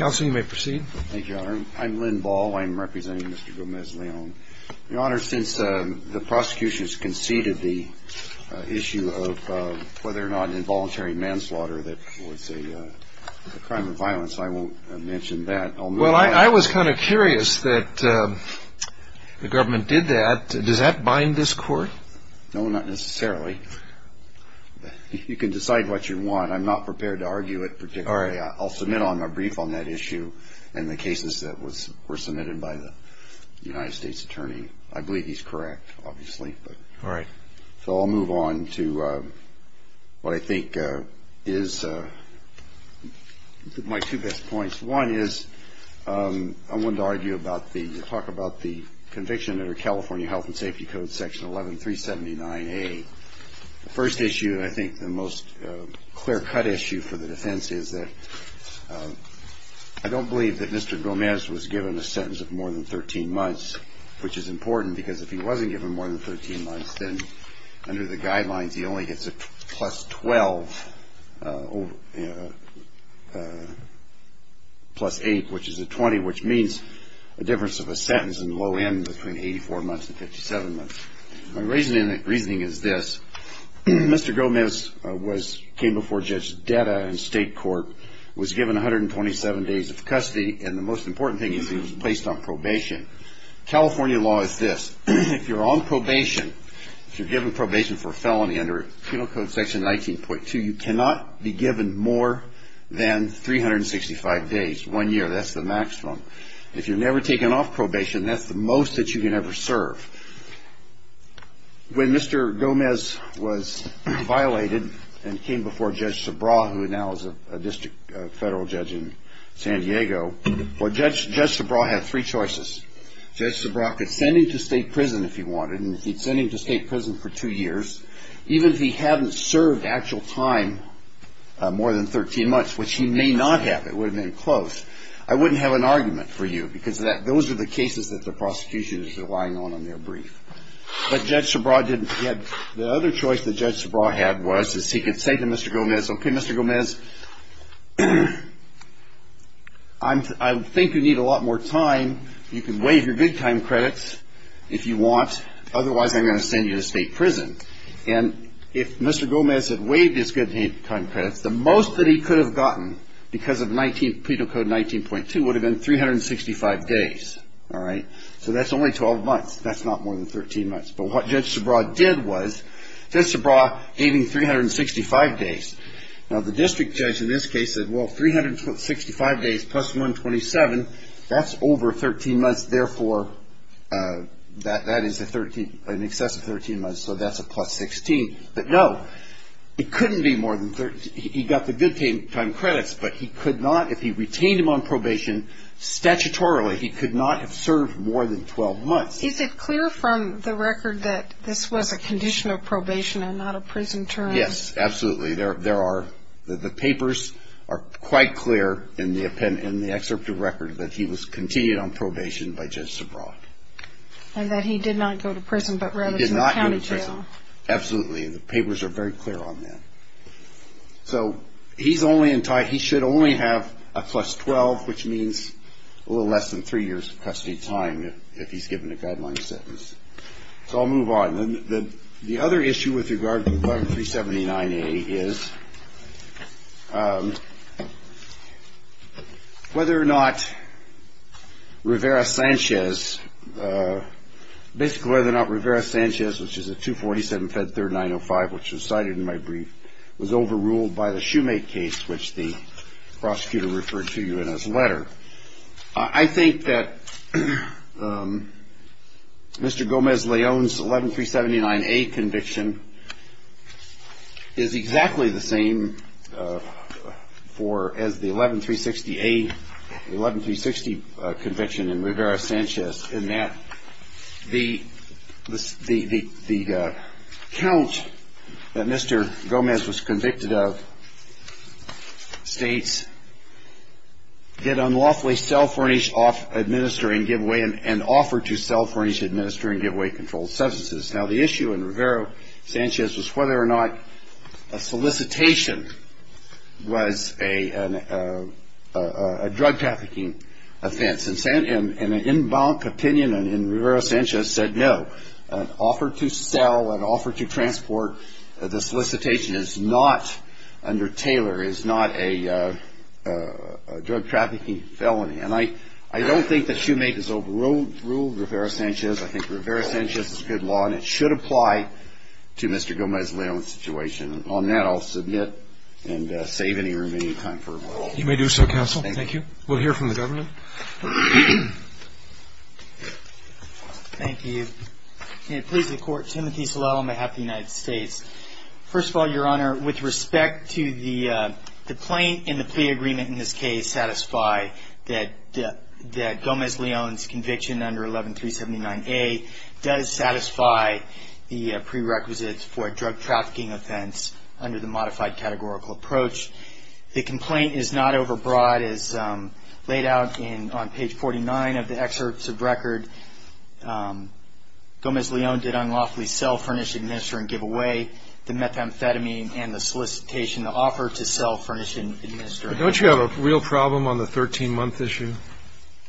I'm representing Mr. Gomez-Leon. Since the prosecution has conceded the issue of whether or not involuntary manslaughter was a crime of violence, I won't mention that. Well, I was kind of curious that the government did that. Does that bind this court? No, not necessarily. You can decide what you want. I'm not prepared to argue it particularly. I'll submit a brief on that issue and the cases that were submitted by the United States attorney. I believe he's correct, obviously. All right. So I'll move on to what I think is my two best points. One is I wanted to argue about the talk about the conviction under California health and safety code section 11379A. The first issue and I think the most clear-cut issue for the defense is that I don't believe that Mr. Gomez was given a sentence of more than 13 months, which is important because if he wasn't given more than 13 months, then under the guidelines, he only gets a plus 12 plus 8, which is a 20, which means a difference of a sentence in the low end between 84 months and 57 months. My reasoning is this. Mr. Gomez came before Judge Deda in state court, was given 127 days of custody, and the most important thing is he was placed on probation. California law is this. If you're on probation, if you're given probation for a felony under penal code section 19.2, you cannot be given more than 365 days, one year. That's the maximum. If you're never taken off probation, that's the most that you can ever serve. When Mr. Gomez was violated and came before Judge Subraw, who now is a district federal judge in San Diego, Judge Subraw had three choices. Judge Subraw could send him to state prison if he wanted, and if he'd send him to state prison for two years, even if he hadn't served actual time more than 13 months, which he may not have, it would have been close, I wouldn't have an argument for you because those are the cases that the prosecution is relying on in their brief. But Judge Subraw didn't. The other choice that Judge Subraw had was he could say to Mr. Gomez, okay, Mr. Gomez, I think you need a lot more time. You can waive your good time credits if you want. Otherwise, I'm going to send you to state prison. And if Mr. Gomez had waived his good time credits, the most that he could have gotten because of penal code 19.2 would have been 365 days. All right? So that's only 12 months. That's not more than 13 months. But what Judge Subraw did was, Judge Subraw gave him 365 days. Now, the district judge in this case said, well, 365 days plus 127, that's over 13 months. Therefore, that is an excess of 13 months, so that's a plus 16. But no, it couldn't be more than 13. He got the good time credits, but he could not, if he retained him on probation, statutorily, he could not have served more than 12 months. Is it clear from the record that this was a condition of probation and not a prison term? Yes, absolutely. There are, the papers are quite clear in the excerpt of record that he was continued on probation by Judge Subraw. And that he did not go to prison but rather to the county jail. He did not go to prison. Absolutely. The papers are very clear on that. So he's only entitled, he should only have a plus 12, which means a little less than three years of custody time if he's given a guideline sentence. So I'll move on. The other issue with regard to §379A is whether or not Rivera-Sanchez, basically whether or not Rivera-Sanchez, which is a 247 Fed 3905, which was cited in my brief, was overruled by the Shoemake case, which the prosecutor referred to you in his letter. I think that Mr. Gomez-Leon's 11-379A conviction is exactly the same for, as the 11-360A, 11-360 conviction in Rivera-Sanchez in that the, the, the count that Mr. Gomez was convicted of states that unlawfully sell, furnish, administer, and give away, and offer to sell, furnish, administer, and give away controlled substances. Now, the issue in Rivera-Sanchez was whether or not a solicitation was a, a, a, a drug trafficking offense. And, and, and an in bonk opinion in, in Rivera-Sanchez said no. An offer to sell, an offer to transport, the solicitation is not under Taylor, is not a, a drug trafficking felony. And I, I don't think that Shoemake has overruled, ruled Rivera-Sanchez. I think Rivera-Sanchez is a good law, and it should apply to Mr. Gomez-Leon's situation. And on that, I'll submit and save any remaining time for rebuttal. You may do so, counsel. Thank you. We'll hear from the government. Thank you. May it please the Court, Timothy Sulel on behalf of the United States. First of all, Your Honor, with respect to the, the plaint and the plea agreement in this case satisfy that, that, that Gomez-Leon's conviction under 11379A does satisfy the prerequisites for a drug trafficking offense under the modified categorical approach. The complaint is not overbroad as laid out in, on page 49 of the excerpts of record. Gomez-Leon did unlawfully sell, furnish, administer, and give away the methamphetamine and the solicitation to offer to sell, furnish, and administer. Don't you have a real problem on the 13-month issue?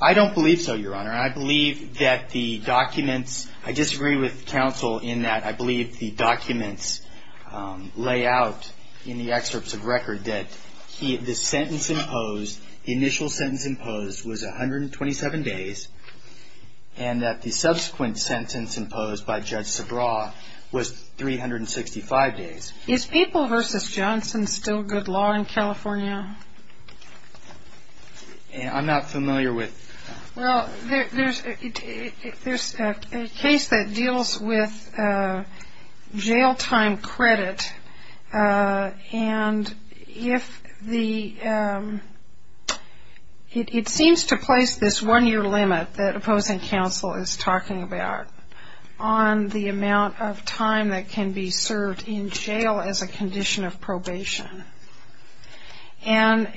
I don't believe so, Your Honor. I believe that the documents, I disagree with counsel in that I believe the documents lay out in the excerpts of record that he, the sentence imposed, the initial sentence imposed was 127 days, and that the subsequent sentence imposed by Judge Sabraw was 365 days. Is People v. Johnson still good law in California? I'm not familiar with. Well, there's a case that deals with jail time credit, and if the, it seems to place this one-year limit that opposing counsel is talking about on the amount of time that can be served in jail as a condition of probation. And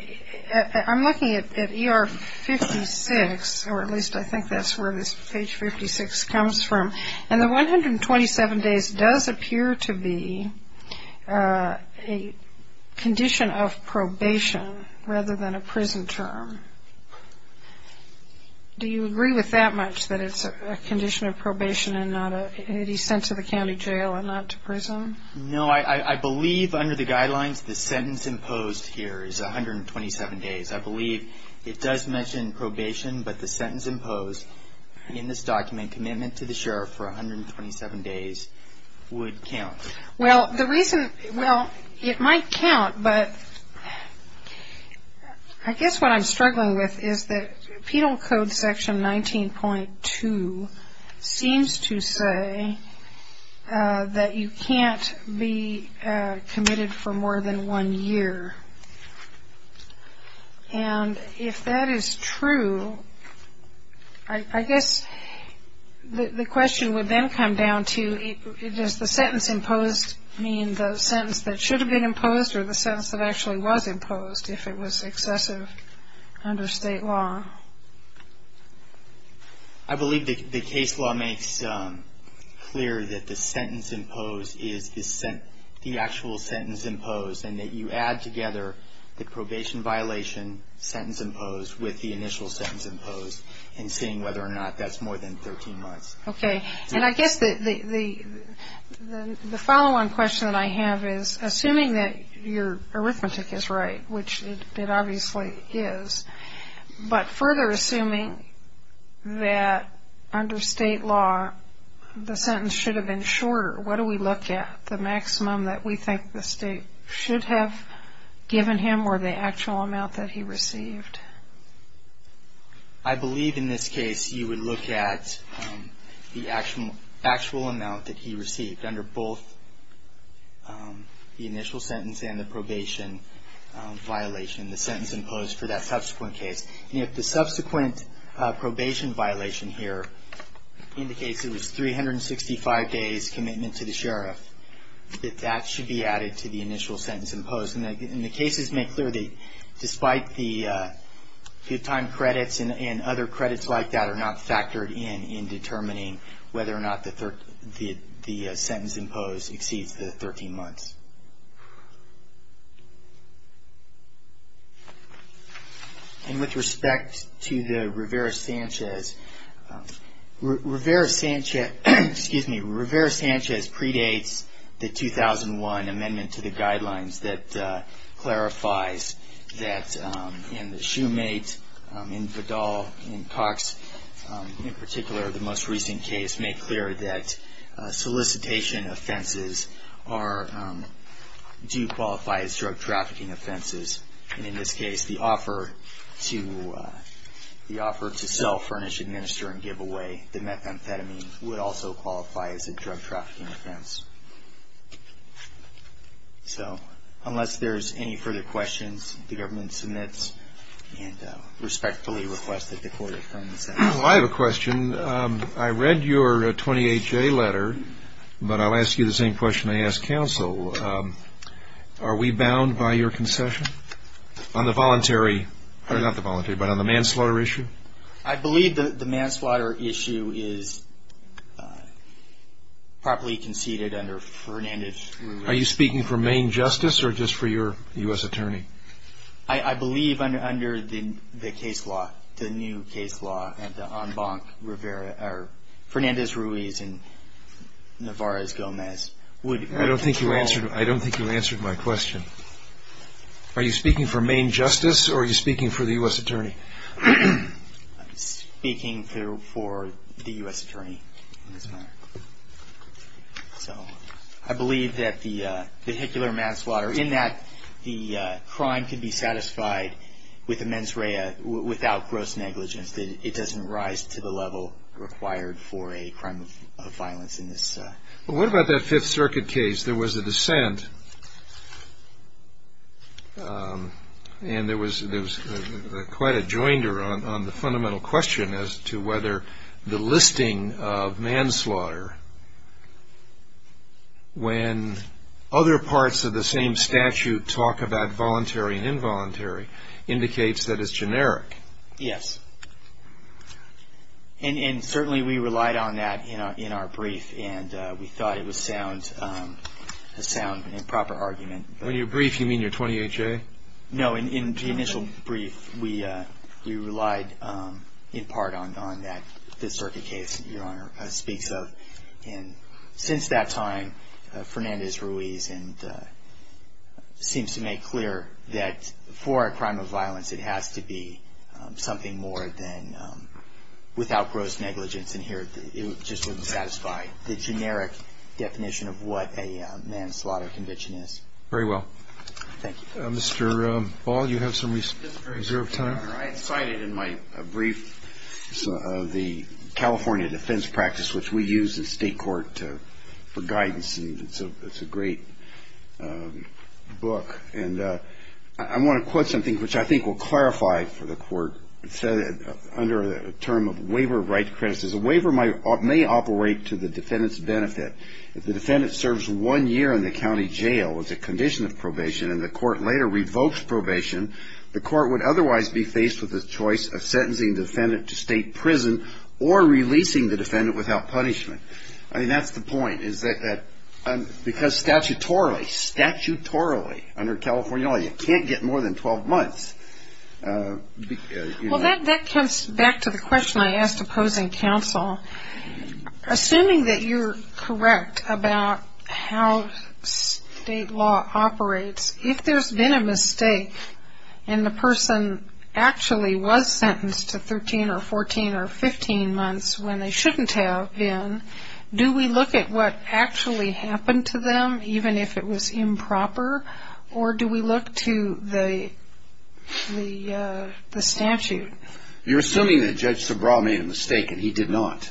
I'm looking at ER 56, or at least I think that's where this page 56 comes from, and the 127 days does appear to be a condition of probation rather than a prison term. Do you agree with that much, that it's a condition of probation and not a, that he's sent to the county jail and not to prison? No, I believe under the guidelines the sentence imposed here is 127 days. I believe it does mention probation, but the sentence imposed in this document, commitment to the sheriff for 127 days, would count. Well, the reason, well, it might count, but I guess what I'm struggling with is that Penal Code section 19.2 seems to say that you can't be committed for more than one year. And if that is true, I guess the question would then come down to does the sentence imposed mean the sentence that should have been imposed or the sentence that actually was imposed if it was excessive under state law? I believe the case law makes clear that the sentence imposed is the actual sentence imposed and that you add together the probation violation sentence imposed with the initial sentence imposed and seeing whether or not that's more than 13 months. Okay, and I guess the following question that I have is, assuming that your arithmetic is right, which it obviously is, but further assuming that under state law the sentence should have been shorter, what do we look at? The maximum that we think the state should have given him or the actual amount that he received? I believe in this case you would look at the actual amount that he received under both the initial sentence and the probation violation, the sentence imposed for that subsequent case. And if the subsequent probation violation here indicates it was 365 days commitment to the sheriff, that that should be added to the initial sentence imposed. And the cases make clear that despite the good time credits and other credits like that are not factored in in determining whether or not the sentence imposed exceeds the 13 months. And with respect to the Rivera-Sanchez, excuse me, Rivera-Sanchez predates the 2001 amendment to the guidelines that clarifies that in the Shoemate, in Vidal, in Cox, in particular, the most recent case made clear that solicitation offenses are not part of the statute. They do qualify as drug trafficking offenses. And in this case, the offer to sell, furnish, administer, and give away the methamphetamine would also qualify as a drug trafficking offense. So unless there's any further questions, the government submits and respectfully requests that the court affirm the sentence. Well, I have a question. I read your 28-J letter, but I'll ask you the same question I asked counsel. Are we bound by your concession on the voluntary or not the voluntary but on the manslaughter issue? I believe that the manslaughter issue is properly conceded under Fernandez. Are you speaking for Maine justice or just for your U.S. attorney? I believe under the case law, the new case law, that the en banc Rivera, or Fernandez-Ruiz and Nevarez-Gomez would have control. I don't think you answered my question. Are you speaking for Maine justice or are you speaking for the U.S. attorney? I'm speaking for the U.S. attorney in this matter. So I believe that the vehicular manslaughter, in that the crime can be satisfied with the mens rea without gross negligence. It doesn't rise to the level required for a crime of violence in this. What about that Fifth Circuit case? There was a dissent and there was quite a joinder on the fundamental question as to whether the listing of manslaughter, when other parts of the same statute talk about voluntary and involuntary, indicates that it's generic. Yes. And certainly we relied on that in our brief and we thought it was a sound and proper argument. When you're brief, you mean your 28-J? No, in the initial brief, we relied in part on that Fifth Circuit case that Your Honor speaks of. Since that time, Fernandez-Ruiz seems to make clear that for a crime of violence, it has to be something more than without gross negligence. And here it just wouldn't satisfy the generic definition of what a manslaughter conviction is. Very well. Thank you. Mr. Ball, you have some reserved time. Your Honor, I had cited in my brief the California defense practice, which we use in state court for guidance and it's a great book. And I want to quote something which I think will clarify for the court. It said that under the term of waiver of right to credit, a waiver may operate to the defendant's benefit. If the defendant serves one year in the county jail as a condition of probation and the court later revokes probation, the court would otherwise be faced with the choice of sentencing the defendant to state prison or releasing the defendant without punishment. I mean, that's the point is that because statutorily, statutorily under California law, you can't get more than 12 months. Well, that comes back to the question I asked opposing counsel. Assuming that you're correct about how state law operates, if there's been a mistake and the person actually was sentenced to 13 or 14 or 15 months when they shouldn't have been, do we look at what actually happened to them, even if it was improper, or do we look to the statute? You're assuming that Judge Sobraw made a mistake, and he did not.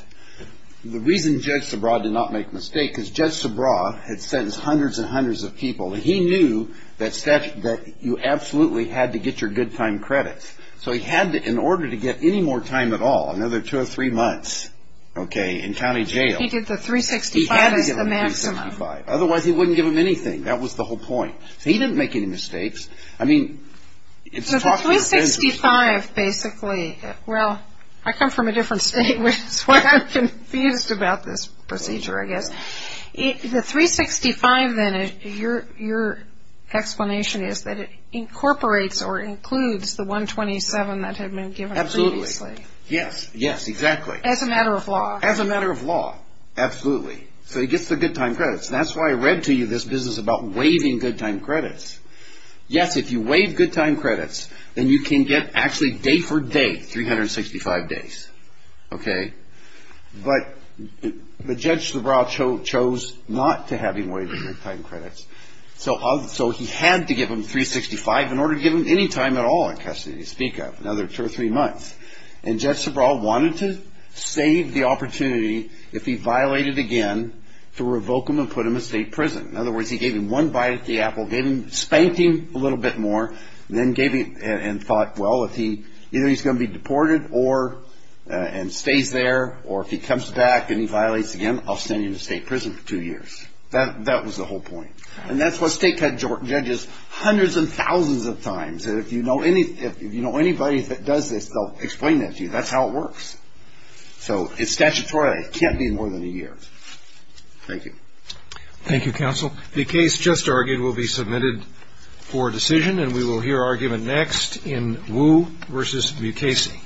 The reason Judge Sobraw did not make a mistake is Judge Sobraw had sentenced hundreds and hundreds of people, and he knew that you absolutely had to get your good time credit. So he had to, in order to get any more time at all, another two or three months, okay, in county jail. He did the 365 as the maximum. He had to give them the 365. Otherwise, he wouldn't give them anything. That was the whole point. He didn't make any mistakes. The 365 basically, well, I come from a different state, which is why I'm confused about this procedure, I guess. The 365 then, your explanation is that it incorporates or includes the 127 that had been given previously. Absolutely. Yes, yes, exactly. As a matter of law. As a matter of law, absolutely. So he gets the good time credits. That's why I read to you this business about waiving good time credits. Yes, if you waive good time credits, then you can get actually day for day 365 days, okay? But Judge Sobraw chose not to have him waive the good time credits. So he had to give them 365 in order to give them any time at all in custody, to speak of, another two or three months. And Judge Sobraw wanted to save the opportunity if he violated again to revoke him and put him in state prison. In other words, he gave him one bite at the apple, spanked him a little bit more, and then thought, well, either he's going to be deported and stays there, or if he comes back and he violates again, I'll send him to state prison for two years. That was the whole point. And that's what state judges hundreds and thousands of times. And if you know anybody that does this, they'll explain that to you. That's how it works. So it's statutory. It can't be more than a year. Thank you. Thank you, counsel. The case just argued will be submitted for decision, and we will hear argument next in Wu v. Mukasey.